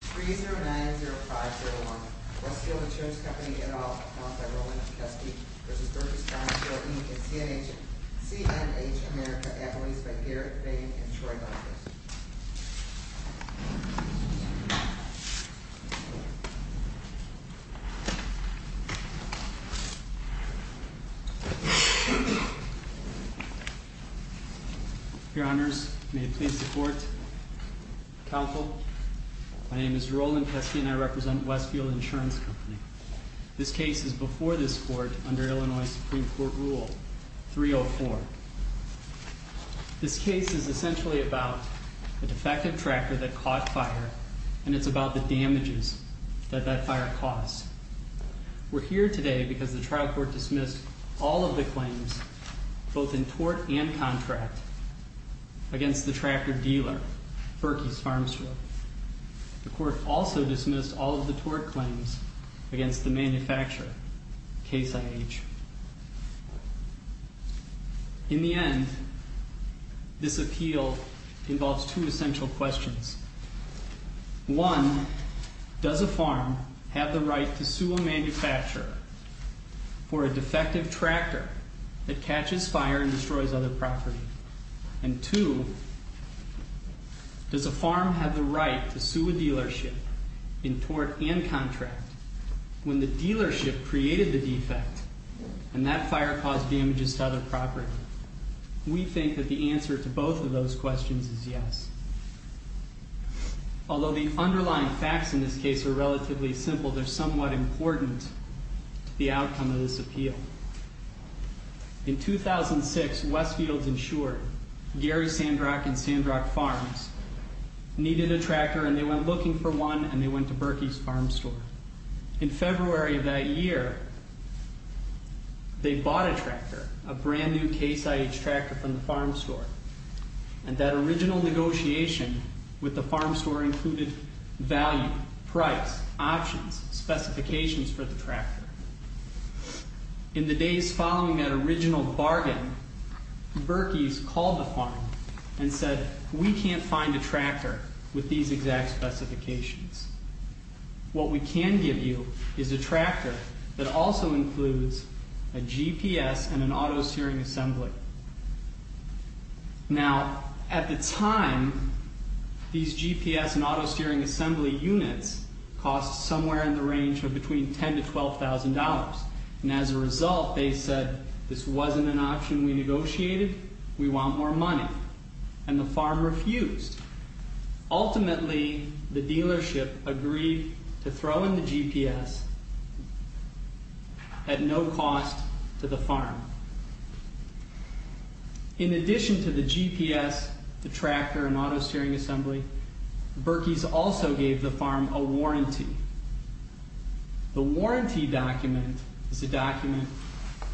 Free 090501, Westfield Insurance Company, NL, owned by Roland Kuski v. Birkey's Farm Store, Inc. and CNH America, appellees by Garrett, Vang, and Troy Lundquist. Your honors, may it please the court, counsel, my name is Roland Kuski and I represent Westfield Insurance Company. This case is before this court under Illinois Supreme Court rule 304. This case is essentially about a defective tractor that caught fire, and it's about the damages that that fire caused. We're here today because the trial court dismissed all of the claims, both in tort and contract, against the tractor dealer, Birkey's Farm Store. The court also dismissed all of the tort claims against the manufacturer, Case IH. In the end, this appeal involves two essential questions. One, does a farm have the right to sue a manufacturer for a defective tractor that catches fire and destroys other property? And two, does a farm have the right to sue a dealership in tort and contract when the dealership created the defect? And that fire caused damages to other property. We think that the answer to both of those questions is yes. Although the underlying facts in this case are relatively simple, they're somewhat important, the outcome of this appeal. In 2006, Westfield Insured, Gary Sandrock and Sandrock Farms, needed a tractor and they went looking for one and they went to Birkey's Farm Store. In February of that year, they bought a tractor, a brand new Case IH tractor from the farm store. And that original negotiation with the farm store included value, price, options, specifications for the tractor. In the days following that original bargain, Birkey's called the farm and said, we can't find a tractor with these exact specifications. What we can give you is a tractor that also includes a GPS and an auto-steering assembly. Now, at the time, these GPS and auto-steering assembly units cost somewhere in the range of between $10,000 to $12,000. And as a result, they said, this wasn't an option we negotiated, we want more money. And the farm refused. Ultimately, the dealership agreed to throw in the GPS at no cost to the farm. In addition to the GPS, the tractor and auto-steering assembly, Birkey's also gave the farm a warranty. The warranty document is a document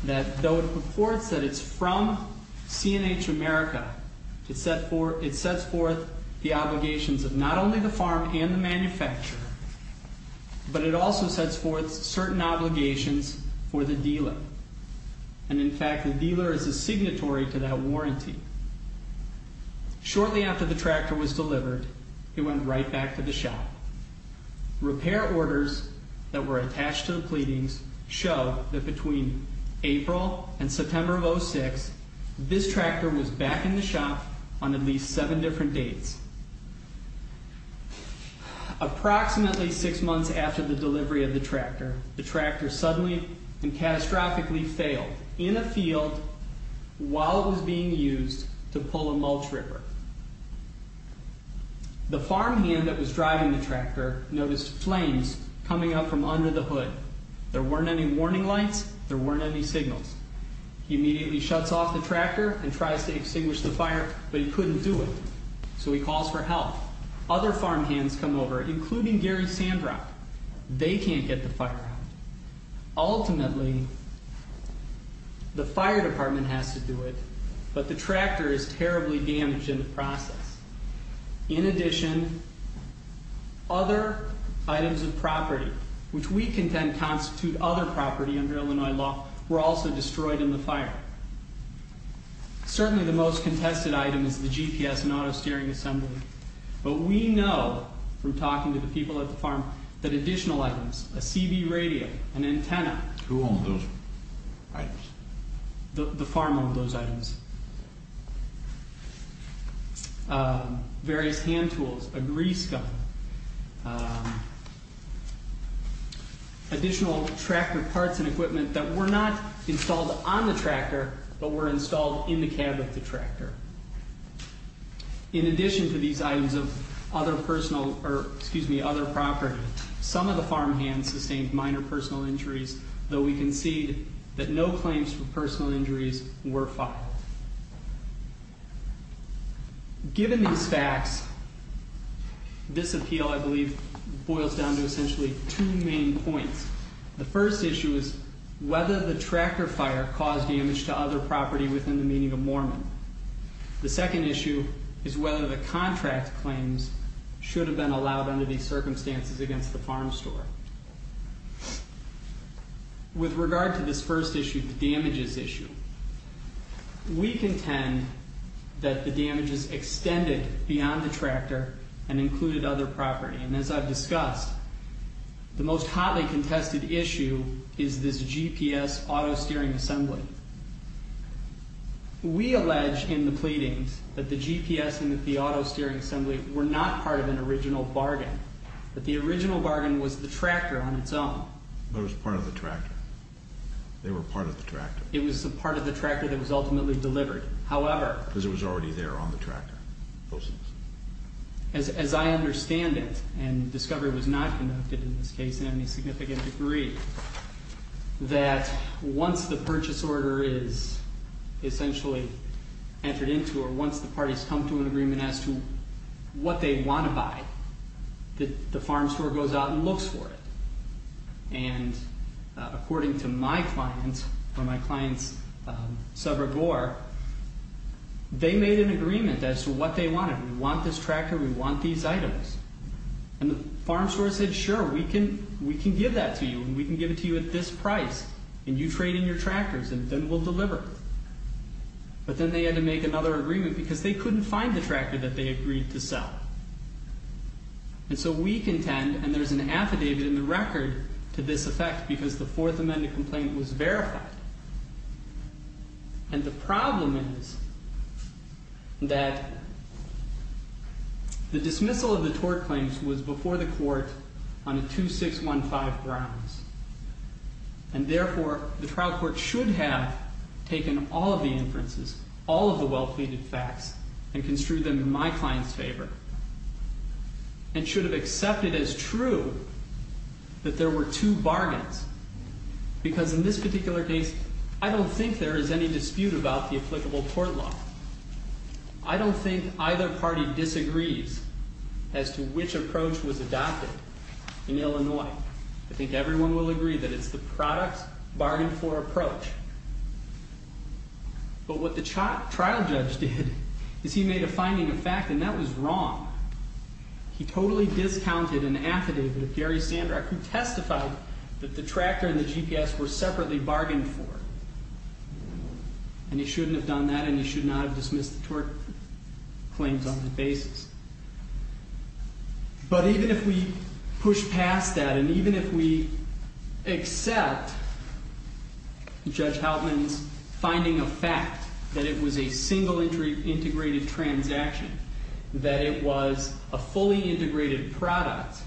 that, though it reports that it's from C&H America, it sets forth the obligations of not only the farm and the manufacturer, but it also sets forth certain obligations for the dealer. And in fact, the dealer is a signatory to that warranty. Shortly after the tractor was delivered, it went right back to the shop. Repair orders that were attached to the pleadings show that between April and September of 2006, this tractor was back in the shop on at least seven different dates. Approximately six months after the delivery of the tractor, the tractor suddenly and catastrophically failed in a field while it was being used to pull a mulch ripper. The farm hand that was driving the tractor noticed flames coming up from under the hood. There weren't any warning lights. There weren't any signals. He immediately shuts off the tractor and tries to extinguish the fire, but he couldn't do it. So he calls for help. Other farm hands come over, including Gary Sandrock. They can't get the fire out. Ultimately, the fire department has to do it, but the tractor is terribly damaged in the process. In addition, other items of property, which we contend constitute other property under Illinois law, were also destroyed in the fire. Certainly the most contested item is the GPS and auto steering assembly. But we know from talking to the people at the farm that additional items, a CB radio, an antenna... Who owned those items? The farm owned those items. Various hand tools, a grease gun. Additional tractor parts and equipment that were not installed on the tractor, but were installed in the cab of the tractor. In addition to these items of other property, some of the farm hands sustained minor personal injuries, though we concede that no claims for personal injuries were filed. Given these facts, this appeal, I believe, boils down to essentially two main points. The first issue is whether the tractor fire caused damage to other property within the meaning of Mormon. The second issue is whether the contract claims should have been allowed under these circumstances against the farm store. With regard to this first issue, the damages issue, we contend that the damages extended beyond the tractor and included other property. And as I've discussed, the most hotly contested issue is this GPS auto steering assembly. We allege in the pleadings that the GPS and the auto steering assembly were not part of an original bargain, that the original bargain was the tractor on its own. But it was part of the tractor. They were part of the tractor. It was a part of the tractor that was ultimately delivered. However... Because it was already there on the tractor. As I understand it, and discovery was not conducted in this case in any significant degree, that once the purchase order is essentially entered into or once the parties come to an agreement as to what they want to buy, that the farm store goes out and looks for it. And according to my client, or my client's subreport, they made an agreement as to what they wanted. We want this tractor. We want these items. And the farm store said, sure, we can give that to you, and we can give it to you at this price, and you trade in your tractors, and then we'll deliver. But then they had to make another agreement because they couldn't find the tractor that they agreed to sell. And so we contend, and there's an affidavit in the record to this effect because the Fourth Amendment complaint was verified. And the problem is that the dismissal of the tort claims was before the court on a 2615 grounds. And therefore, the trial court should have taken all of the inferences, all of the well-pleaded facts, and construed them in my client's favor. And should have accepted as true that there were two bargains. Because in this particular case, I don't think there is any dispute about the applicable court law. I don't think either party disagrees as to which approach was adopted in Illinois. I think everyone will agree that it's the product bargain for approach. But what the trial judge did is he made a finding of fact, and that was wrong. He totally discounted an affidavit of Gary Sandrock who testified that the tractor and the GPS were separately bargained for. And he shouldn't have done that, and he should not have dismissed the tort claims on that basis. But even if we push past that, and even if we accept Judge Houtman's finding of fact that it was a single integrated transaction, that it was a fully integrated product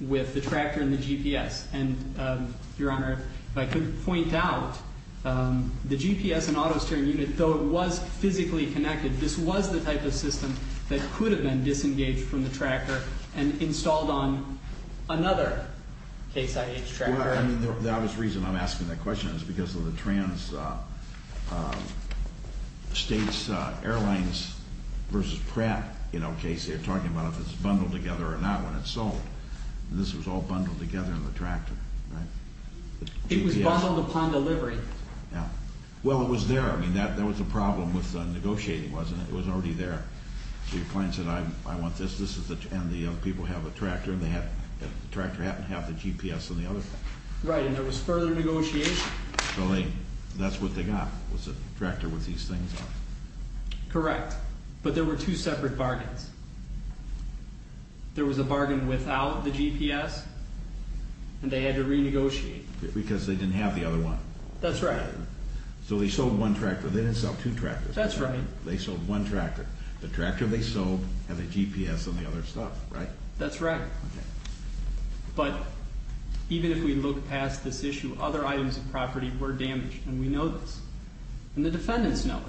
with the tractor and the GPS. And, Your Honor, if I could point out, the GPS and auto steering unit, though it was physically connected, this was the type of system that could have been disengaged from the tractor and installed on another Case IH tractor. I mean, the obvious reason I'm asking that question is because of the Trans States Airlines versus Pratt, you know, case. They're talking about if it's bundled together or not when it's sold. And this was all bundled together in the tractor, right? It was bundled upon delivery. Yeah. Well, it was there. I mean, that was the problem with negotiating, wasn't it? It was already there. So your client said, I want this. And the other people have a tractor, and the tractor didn't have the GPS on the other one. Right. And there was further negotiation. So that's what they got, was a tractor with these things on it. Correct. But there were two separate bargains. There was a bargain without the GPS, and they had to renegotiate. Because they didn't have the other one. That's right. So they sold one tractor. They didn't sell two tractors. That's right. They sold one tractor. The tractor they sold had the GPS on the other stuff, right? That's right. Okay. But even if we look past this issue, other items of property were damaged, and we know this. And the defendants know it.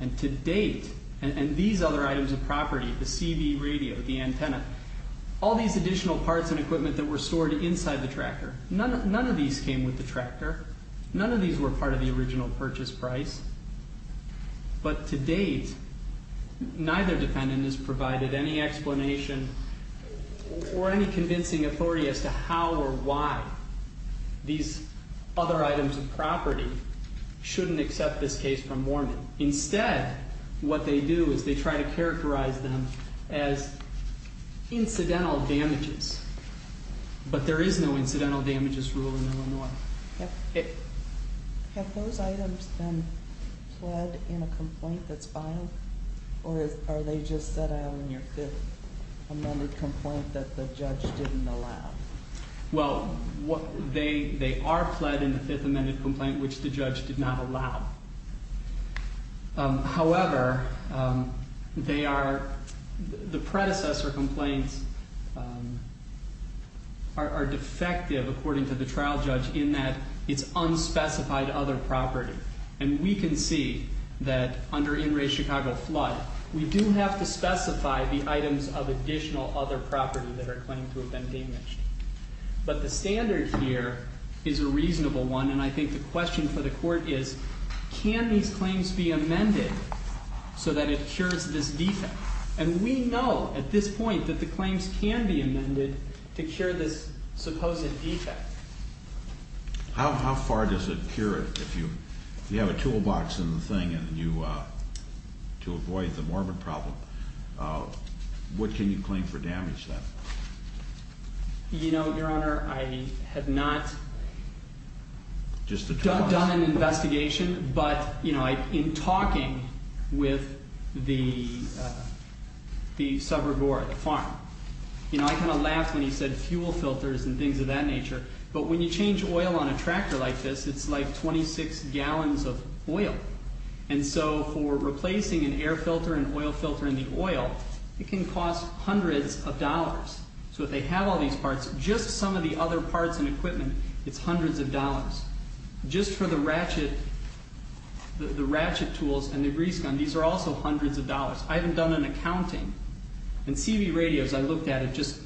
And to date, and these other items of property, the CB radio, the antenna, all these additional parts and equipment that were stored inside the tractor, none of these came with the tractor. None of these were part of the original purchase price. But to date, neither defendant has provided any explanation or any convincing authority as to how or why these other items of property shouldn't accept this case from Mormon. Instead, what they do is they try to characterize them as incidental damages. But there is no incidental damages rule in Illinois. Have those items been pled in a complaint that's filed, or are they just set out in your fifth amended complaint that the judge didn't allow? Well, they are pled in the fifth amended complaint, which the judge did not allow. However, the predecessor complaints are defective, according to the trial judge, in that it's unspecified other property. And we can see that under in-ray Chicago flood, we do have to specify the items of additional other property that are claimed to have been damaged. But the standard here is a reasonable one, and I think the question for the court is can these claims be amended so that it cures this defect? And we know at this point that the claims can be amended to cure this supposed defect. How far does it cure it? If you have a toolbox in the thing to avoid the Mormon problem, what can you claim for damage? You know, Your Honor, I have not done an investigation. But, you know, in talking with the suburb or the farm, you know, I kind of laughed when he said fuel filters and things of that nature. But when you change oil on a tractor like this, it's like 26 gallons of oil. And so for replacing an air filter, an oil filter in the oil, it can cost hundreds of dollars. So if they have all these parts, just some of the other parts and equipment, it's hundreds of dollars. Just for the ratchet tools and the grease gun, these are also hundreds of dollars. I haven't done an accounting. In CB radios, I looked at it just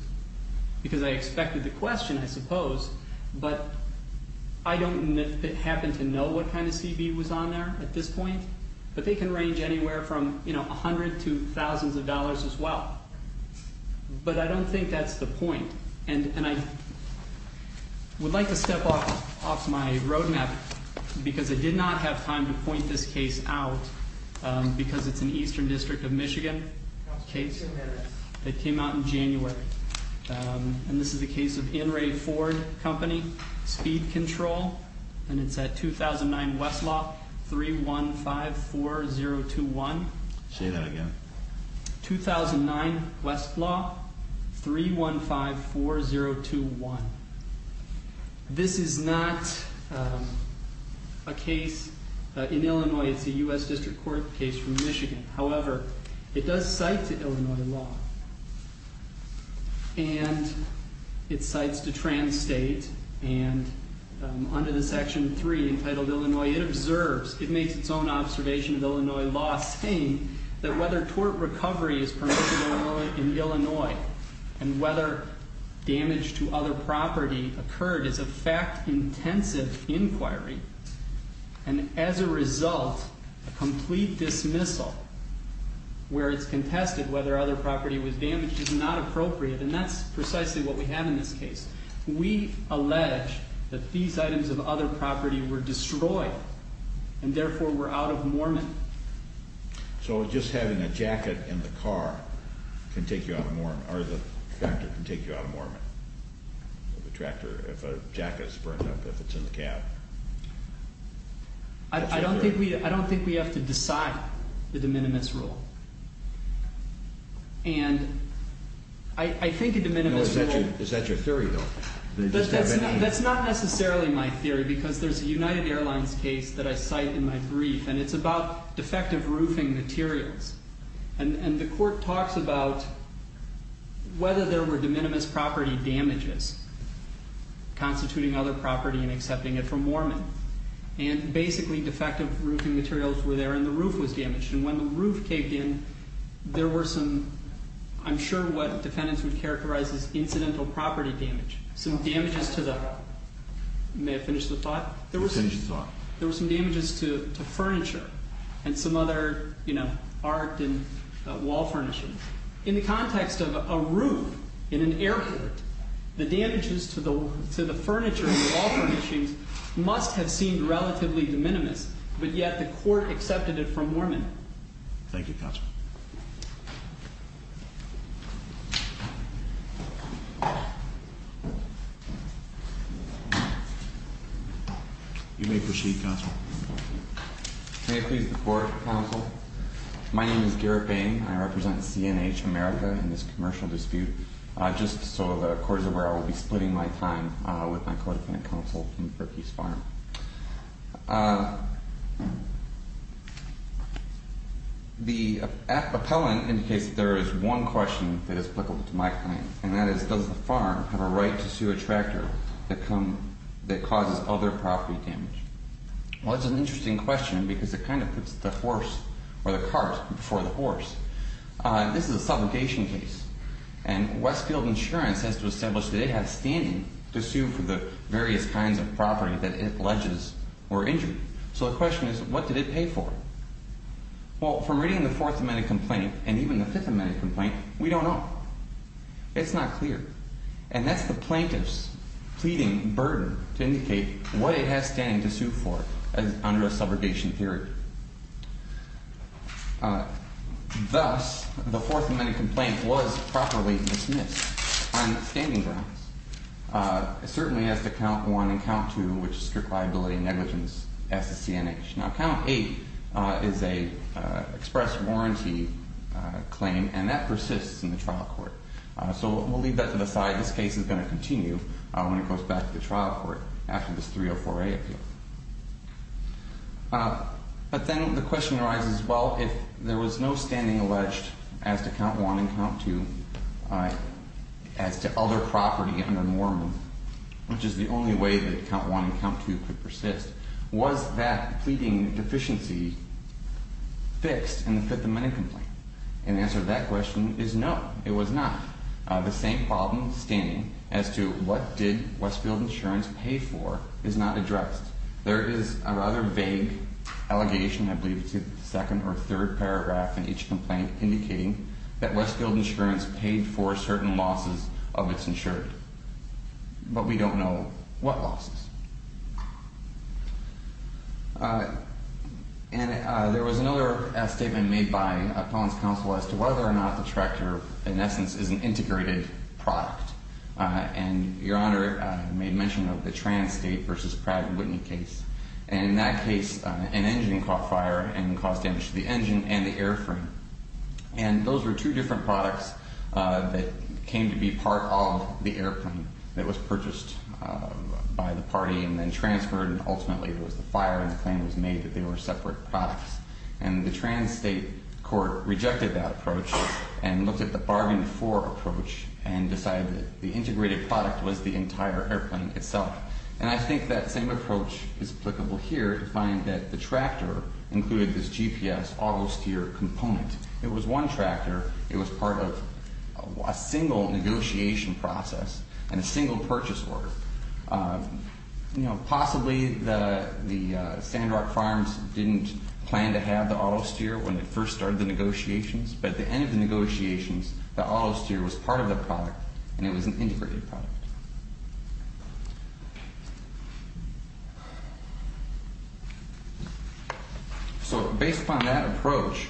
because I expected the question, I suppose. But I don't happen to know what kind of CB was on there at this point. But they can range anywhere from, you know, a hundred to thousands of dollars as well. But I don't think that's the point. And I would like to step off my roadmap because I did not have time to point this case out because it's an Eastern District of Michigan case that came out in January. And this is a case of In re Ford Company Speed Control. And it's at 2009 Westlaw 3154021. Say that again. 2009 Westlaw 3154021. This is not a case in Illinois. It's a U.S. District Court case from Michigan. However, it does cite to Illinois law. And it cites to trans-state. And under the Section 3 entitled Illinois, it observes, it makes its own observation of Illinois law saying that whether tort recovery is permitted in Illinois and whether damage to other property occurred is a fact-intensive inquiry. And as a result, a complete dismissal where it's contested whether other property was damaged is not appropriate. And that's precisely what we have in this case. We allege that these items of other property were destroyed and therefore were out of mormon. So just having a jacket in the car can take you out of mormon. Or the tractor can take you out of mormon. The tractor, if a jacket's burned up, if it's in the cab. I don't think we have to decide the de minimis rule. And I think a de minimis rule... Is that your theory, though? That's not necessarily my theory because there's a United Airlines case that I cite in my brief and it's about defective roofing materials. And the court talks about whether there were de minimis property damages constituting other property and accepting it for mormon. And basically, defective roofing materials were there and the roof was damaged. And when the roof caved in, there were some... I'm sure what defendants would characterize as incidental property damage. Some damages to the... May I finish the thought? There were some damages to furniture and some other art and wall furnishings. In the context of a roof in an airport, the damages to the furniture and wall furnishings must have seemed relatively de minimis, but yet the court accepted it for mormon. Thank you, counsel. You may proceed, counsel. May I please report, counsel? My name is Garrett Bain. I represent C&H America in this commercial dispute. Just so the court is aware, I will be splitting my time with my co-defendant counsel from Perky's Farm. The appellant indicates that there is one question that is applicable to my claim, and that is, does the farm have a right to sue a tractor that causes other property damage? Well, that's an interesting question because it kind of puts the horse or the cart before the horse. This is a supplication case, and Westfield Insurance has to establish that it has standing to sue for the various kinds of property that it alleges were injured. So the question is, what did it pay for? Well, from reading the Fourth Amendment complaint and even the Fifth Amendment complaint, we don't know. It's not clear. And that's the plaintiff's pleading burden to indicate what it has standing to sue for under a subrogation theory. Thus, the Fourth Amendment complaint was properly dismissed on its standing grounds. It certainly has to count one and count two, which is strict liability and negligence, as does C&H. Now, count eight is an express warranty claim, and that persists in the trial court. So we'll leave that to the side. This case is going to continue when it goes back to the trial court after this 304A appeal. But then the question arises, well, if there was no standing alleged as to count one and count two as to other property under Mormon, which is the only way that count one and count two could persist, was that pleading deficiency fixed in the Fifth Amendment complaint? And the answer to that question is no, it was not. The same problem standing as to what did Westfield Insurance pay for is not addressed. There is a rather vague allegation, I believe it's the second or third paragraph in each complaint, indicating that Westfield Insurance paid for certain losses of its insurance. But we don't know what losses. And there was another statement made by Appellant's Counsel as to whether or not the tractor, in essence, is an integrated product. And Your Honor made mention of the Transtate v. Pratt & Whitney case. And in that case, an engine caught fire and caused damage to the engine and the airframe. And those were two different products that came to be part of the airplane that was purchased by the party and then transferred, and ultimately it was the fire and the claim was made that they were separate products. And the Transtate court rejected that approach and looked at the bargaining for approach and decided that the integrated product was the entire airplane itself. And I think that same approach is applicable here to find that the tractor included this GPS auto-steer component. It was one tractor. It was part of a single negotiation process and a single purchase order. Possibly the Sandrock Farms didn't plan to have the auto-steer when they first started the negotiations, but at the end of the negotiations, the auto-steer was part of the product and it was an integrated product. So based upon that approach,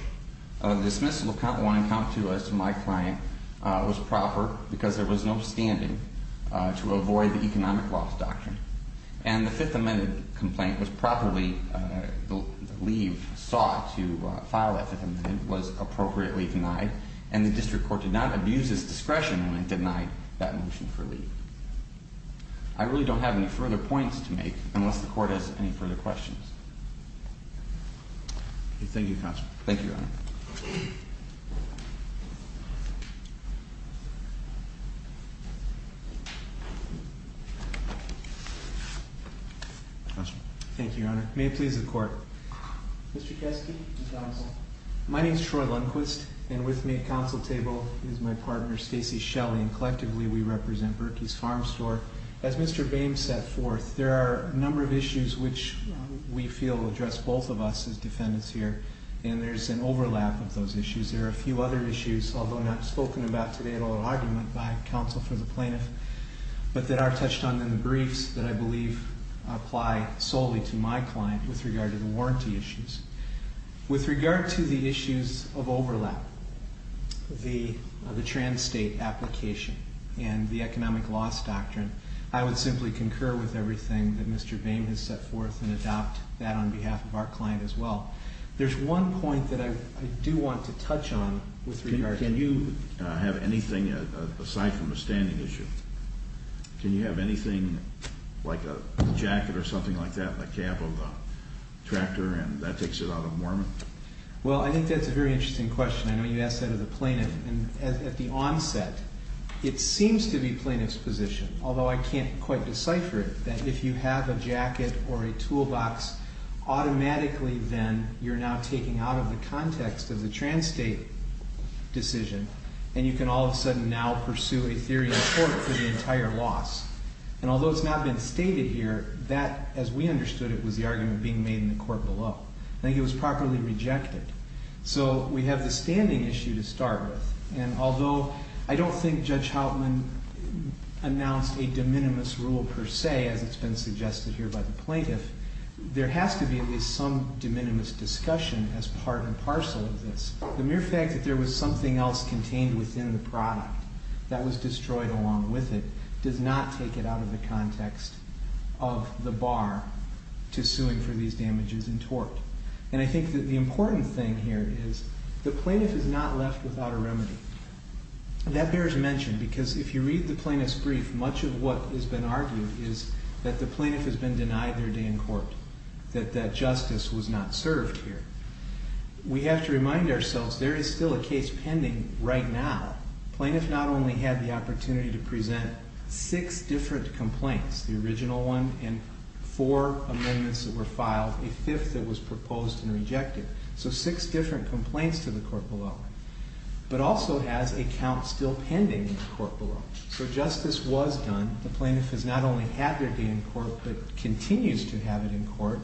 dismissal of Count 1 and Count 2 as to my client was proper because there was no standing to avoid the economic loss doctrine. And the Fifth Amendment complaint was properly, the leave sought to file that Fifth Amendment was appropriately denied and the district court did not abuse its discretion when it denied that motion for leave. I really don't have any further points to make unless the court has any further questions. Thank you, Counselor. Thank you, Your Honor. Thank you. Thank you, Your Honor. May it please the Court. Mr. Kesky. Counsel. My name is Troy Lundquist and with me at the Counsel table is my partner, Stacey Shelley, and collectively we represent Berkey's Farm Store. As Mr. Boehm set forth, there are a number of issues which we feel address both of us as defendants here and there's an overlap of those issues. There are a few other issues, although not spoken about today in the oral argument by counsel for the plaintiff, but that are touched on in the briefs that I believe apply solely to my client with regard to the warranty issues. With regard to the issues of overlap, the trans-state application and the economic loss doctrine, I would simply concur with everything that Mr. Boehm has set forth and adopt that on behalf of our client as well. There's one point that I do want to touch on with regard to... Can you have anything, aside from a standing issue, can you have anything like a jacket or something like that on the cab of a tractor and that takes it out of Mormon? Well, I think that's a very interesting question. I know you asked that of the plaintiff. At the onset, it seems to be plaintiff's position, although I can't quite decipher it, that if you have a jacket or a toolbox, automatically then you're now taking out of the context of the trans-state decision, and you can all of a sudden now pursue a theory in court for the entire loss. And although it's not been stated here, that, as we understood it, was the argument being made in the court below. I think it was properly rejected. So we have the standing issue to start with, and although I don't think Judge Houtman announced a de minimis rule per se, as it's been suggested here by the plaintiff, there has to be at least some de minimis discussion as part and parcel of this. The mere fact that there was something else contained within the product that was destroyed along with it does not take it out of the context of the bar to suing for these damages in tort. And I think that the important thing here is the plaintiff is not left without a remedy. That bears mention because if you read the plaintiff's brief, much of what has been argued is that the plaintiff has been denied their day in court, that justice was not served here. We have to remind ourselves there is still a case pending right now. The plaintiff not only had the opportunity to present six different complaints, the original one and four amendments that were filed, a fifth that was proposed and rejected, so six different complaints to the court below, but also has a count still pending in the court below. So justice was done. The plaintiff has not only had their day in court, but continues to have it in court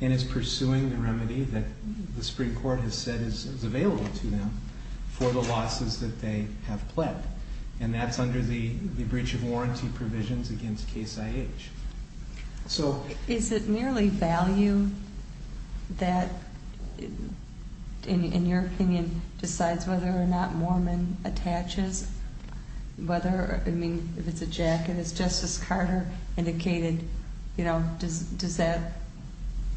and is pursuing the remedy that the Supreme Court has said is available to them for the losses that they have pled. And that's under the breach of warranty provisions against Case IH. Is it merely value that, in your opinion, decides whether or not Moorman attaches? Whether, I mean, if it's a jacket, as Justice Carter indicated, you know, does that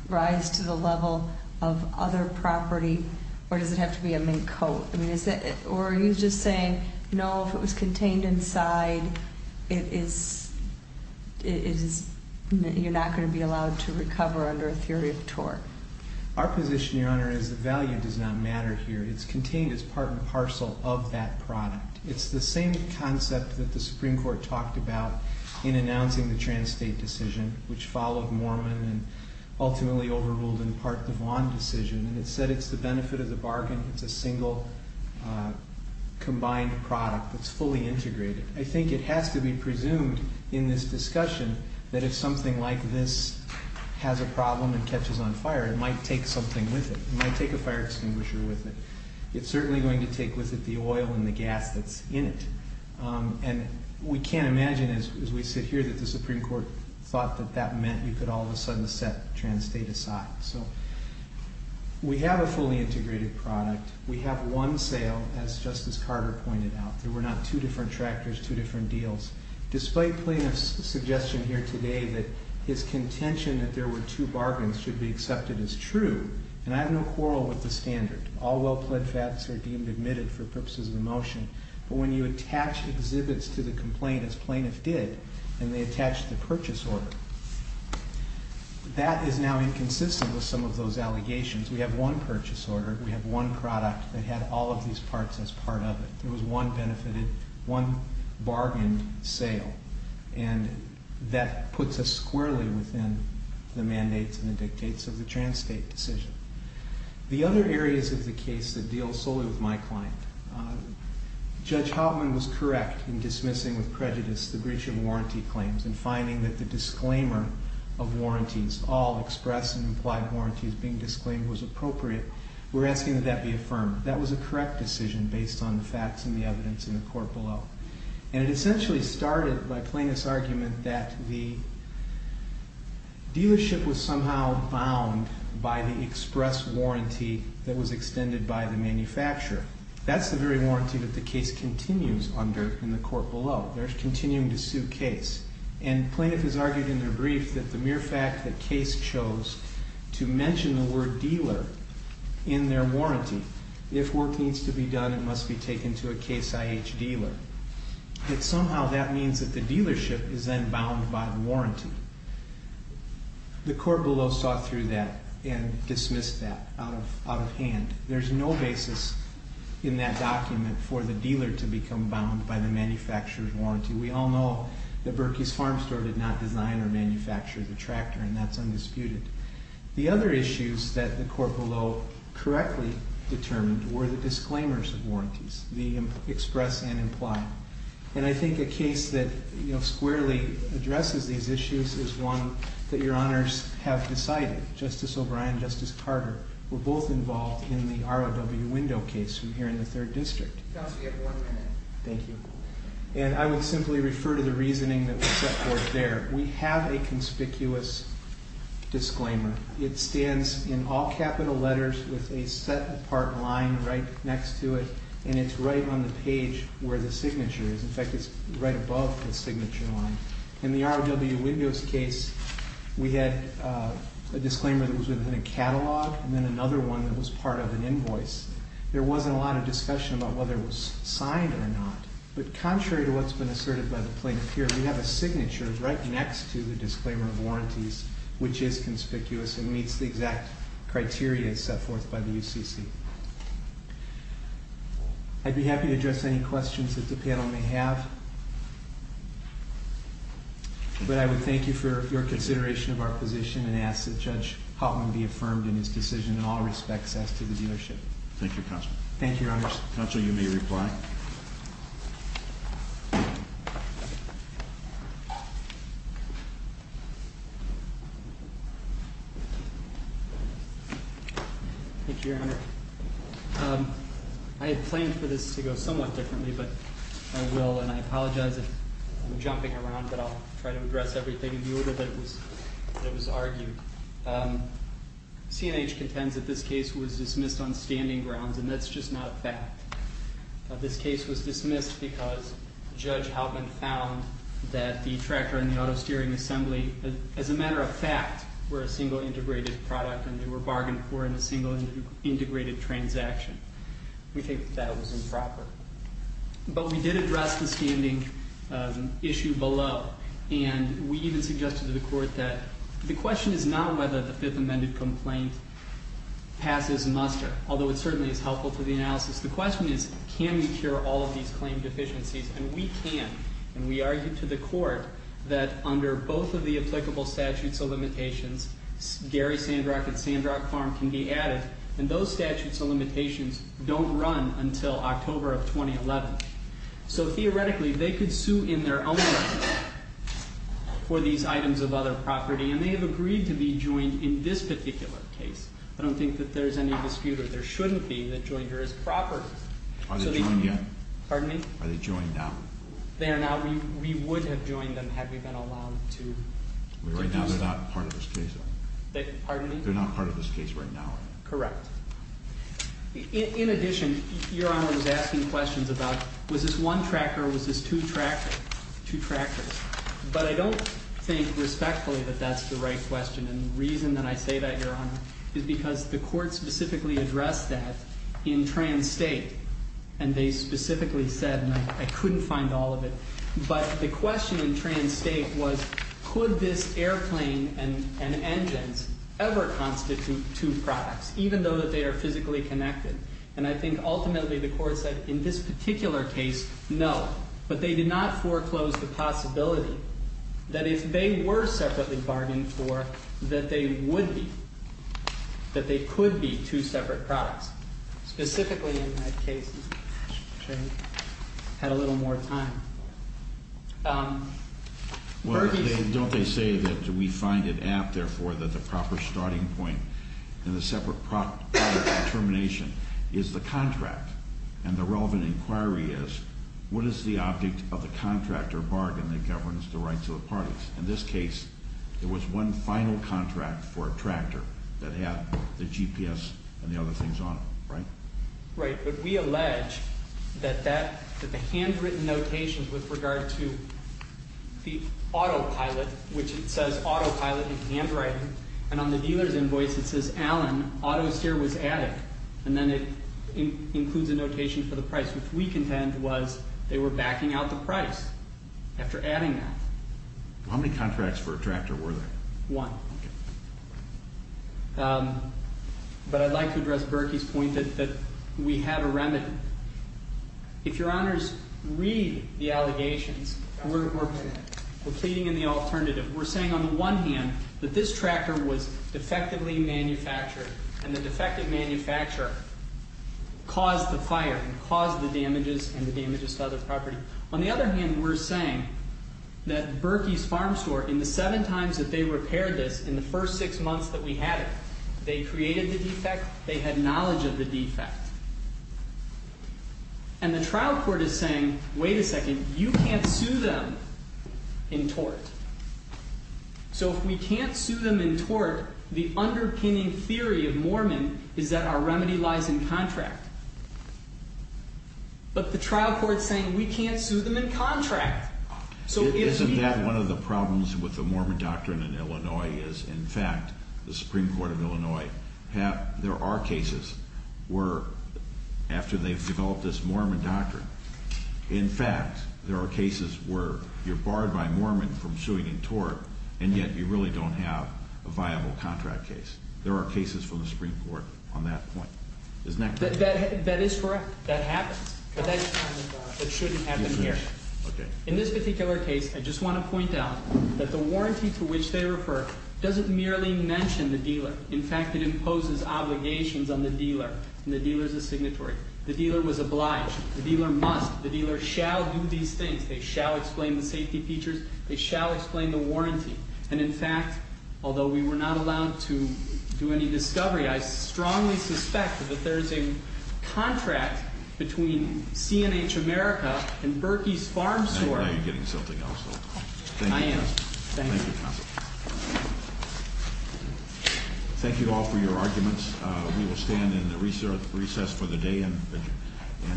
rise to the level of other property or does it have to be a mink coat? Or are you just saying, you know, if it was contained inside, you're not going to be allowed to recover under a theory of tort? Our position, Your Honor, is that value does not matter here. It's contained as part and parcel of that product. It's the same concept that the Supreme Court talked about in announcing the trans-state decision, which followed Moorman and ultimately overruled in part the Vaughan decision. And it said it's the benefit of the bargain. It's a single combined product that's fully integrated. I think it has to be presumed in this discussion that if something like this has a problem and catches on fire, it might take something with it. It might take a fire extinguisher with it. It's certainly going to take with it the oil and the gas that's in it. And we can't imagine, as we sit here, that the Supreme Court thought that that meant you could all of a sudden set trans-state aside. So we have a fully integrated product. We have one sale, as Justice Carter pointed out. There were not two different tractors, two different deals. Despite plaintiff's suggestion here today that his contention that there were two bargains should be accepted as true, and I have no quarrel with the standard. All well-pled facts are deemed admitted for purposes of the motion. But when you attach exhibits to the complaint, as plaintiff did, and they attach the purchase order, that is now inconsistent with some of those allegations. We have one purchase order. We have one product that had all of these parts as part of it. There was one benefited, one bargained sale. And that puts us squarely within the mandates and the dictates of the trans-state decision. The other areas of the case that deal solely with my client, Judge Hoffman was correct in dismissing with prejudice the breach of warranty claims and finding that the disclaimer of warranties, all express and implied warranties being disclaimed was appropriate. We're asking that that be affirmed. That was a correct decision based on the facts And it essentially started by plaintiff's argument that the dealership was somehow bound by the express warranty that was extended by the manufacturer. That's the very warranty that the case continues under in the court below. They're continuing to sue case. And plaintiff has argued in their brief that the mere fact that case chose to mention the word dealer in their warranty, if work needs to be done, it must be taken to a Case IH dealer. That somehow that means that the dealership is then bound by the warranty. The court below saw through that and dismissed that out of hand. There's no basis in that document for the dealer to become bound by the manufacturer's warranty. We all know that Berkey's Farm Store did not design or manufacture the tractor and that's undisputed. The other issues that the court below correctly determined were the disclaimers of warranties, the express and imply. And I think a case that squarely addresses these issues is one that your honors have decided. Justice O'Brien and Justice Carter were both involved in the ROW window case from here in the 3rd District. Counsel, you have one minute. Thank you. And I will simply refer to the reasoning that was set forth there. We have a conspicuous disclaimer. It stands in all capital letters with a set apart line right next to it and it's right on the page where the signature is. In fact, it's right above the signature line. In the ROW windows case, we had a disclaimer that was within a catalog and then another one that was part of an invoice. There wasn't a lot of discussion about whether it was signed or not. But contrary to what's been asserted by the plaintiff here, we have a signature right next to the disclaimer of warranties which is conspicuous and meets the exact criteria set forth by the UCC. I'd be happy to address any questions that the panel may have. But I would thank you for your consideration of our position and ask that Judge Hoffman be affirmed in his decision in all respects as to the dealership. Thank you, Counsel. Thank you, your honors. Counsel, you may reply. Thank you. Thank you, your honor. I had planned for this to go somewhat differently, but I will. And I apologize if I'm jumping around, but I'll try to address everything in lieu of what was argued. CNH contends that this case was dismissed on standing grounds and that's just not a fact. This case was dismissed because Judge Hoffman found that the tractor and the auto steering assembly, as a matter of fact, were a single integrated product and they were bargained for in a single integrated transaction. We think that was improper. But we did address the standing issue below, and we even suggested to the court that the question is not whether the Fifth Amendment complaint passes muster, although it certainly is helpful for the analysis. The question is can we cure all of these claim deficiencies, and we can, and we argued to the court that under both of the applicable statutes of limitations, Gary Sandrock and Sandrock Farm can be added, and those statutes of limitations don't run until October of 2011. So theoretically, they could sue in their own right for these items of other property, and they have agreed to be joined in this particular case. I don't think that there's any dispute or there shouldn't be that Joinder is property. Are they joined yet? Pardon me? Are they joined now? They are now. We would have joined them had we been allowed to do so. Well, right now they're not part of this case. Pardon me? They're not part of this case right now. Correct. In addition, Your Honor was asking questions about was this one tractor or was this two tractors? But I don't think respectfully that that's the right question, and the reason that I say that, Your Honor, is because the court specifically addressed that in trans-state, and they specifically said, and I couldn't find all of it, but the question in trans-state was could this airplane and engines ever constitute two products, even though they are physically connected? And I think ultimately the court said in this particular case, no, but they did not foreclose the possibility that if they were separately bargained for, that they would be, that they could be two separate products, specifically in that case. Had a little more time. Well, don't they say that we find it apt, therefore, that the proper starting point in the separate product determination is the contract, and the relevant inquiry is what is the object of the contract or bargain that governs the rights of the parties? In this case, there was one final contract for a tractor that had the GPS and the other things on it, right? Right, but we allege that the handwritten notations with regard to the autopilot, which it says autopilot in handwriting, and on the dealer's invoice it says, Allen, auto steer was added, and then it includes a notation for the price, which we contend was they were backing out the price after adding that. How many contracts for a tractor were there? One. But I'd like to address Berkey's point that we had a remedy. If Your Honors read the allegations, we're pleading in the alternative. We're saying, on the one hand, that this tractor was defectively manufactured, and the defective manufacturer caused the fire and caused the damages and the damages to other property. On the other hand, we're saying that Berkey's Farm Store, in the seven times that they repaired this, in the first six months that we had it, they created the defect, they had knowledge of the defect. And the trial court is saying, wait a second, you can't sue them in tort. So if we can't sue them in tort, the underpinning theory of Mormon is that our remedy lies in contract. But the trial court is saying we can't sue them in contract. Isn't that one of the problems with the Mormon doctrine in Illinois? In fact, the Supreme Court of Illinois, there are cases where after they've developed this Mormon doctrine, in fact, there are cases where you're barred by Mormon from suing in tort, and yet you really don't have a viable contract case. There are cases from the Supreme Court on that point. Isn't that correct? That is correct. That happens. But that shouldn't happen here. In this particular case, I just want to point out that the warranty to which they refer doesn't merely mention the dealer. In fact, it imposes obligations on the dealer, and the dealer is a signatory. The dealer was obliged. The dealer must. The dealer shall do these things. They shall explain the safety features. They shall explain the warranty. And in fact, although we were not allowed to do any discovery, I strongly suspect that there is a contract between C&H America and Berkey's Farm Store. I'm glad you're getting something else, though. I am. Thank you. Thank you, Counsel. Thank you all for your arguments. We will stand in the recess for the day and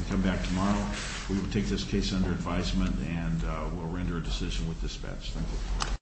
come back tomorrow. We will take this case under advisement, and we'll render a decision with dispatch. Thank you.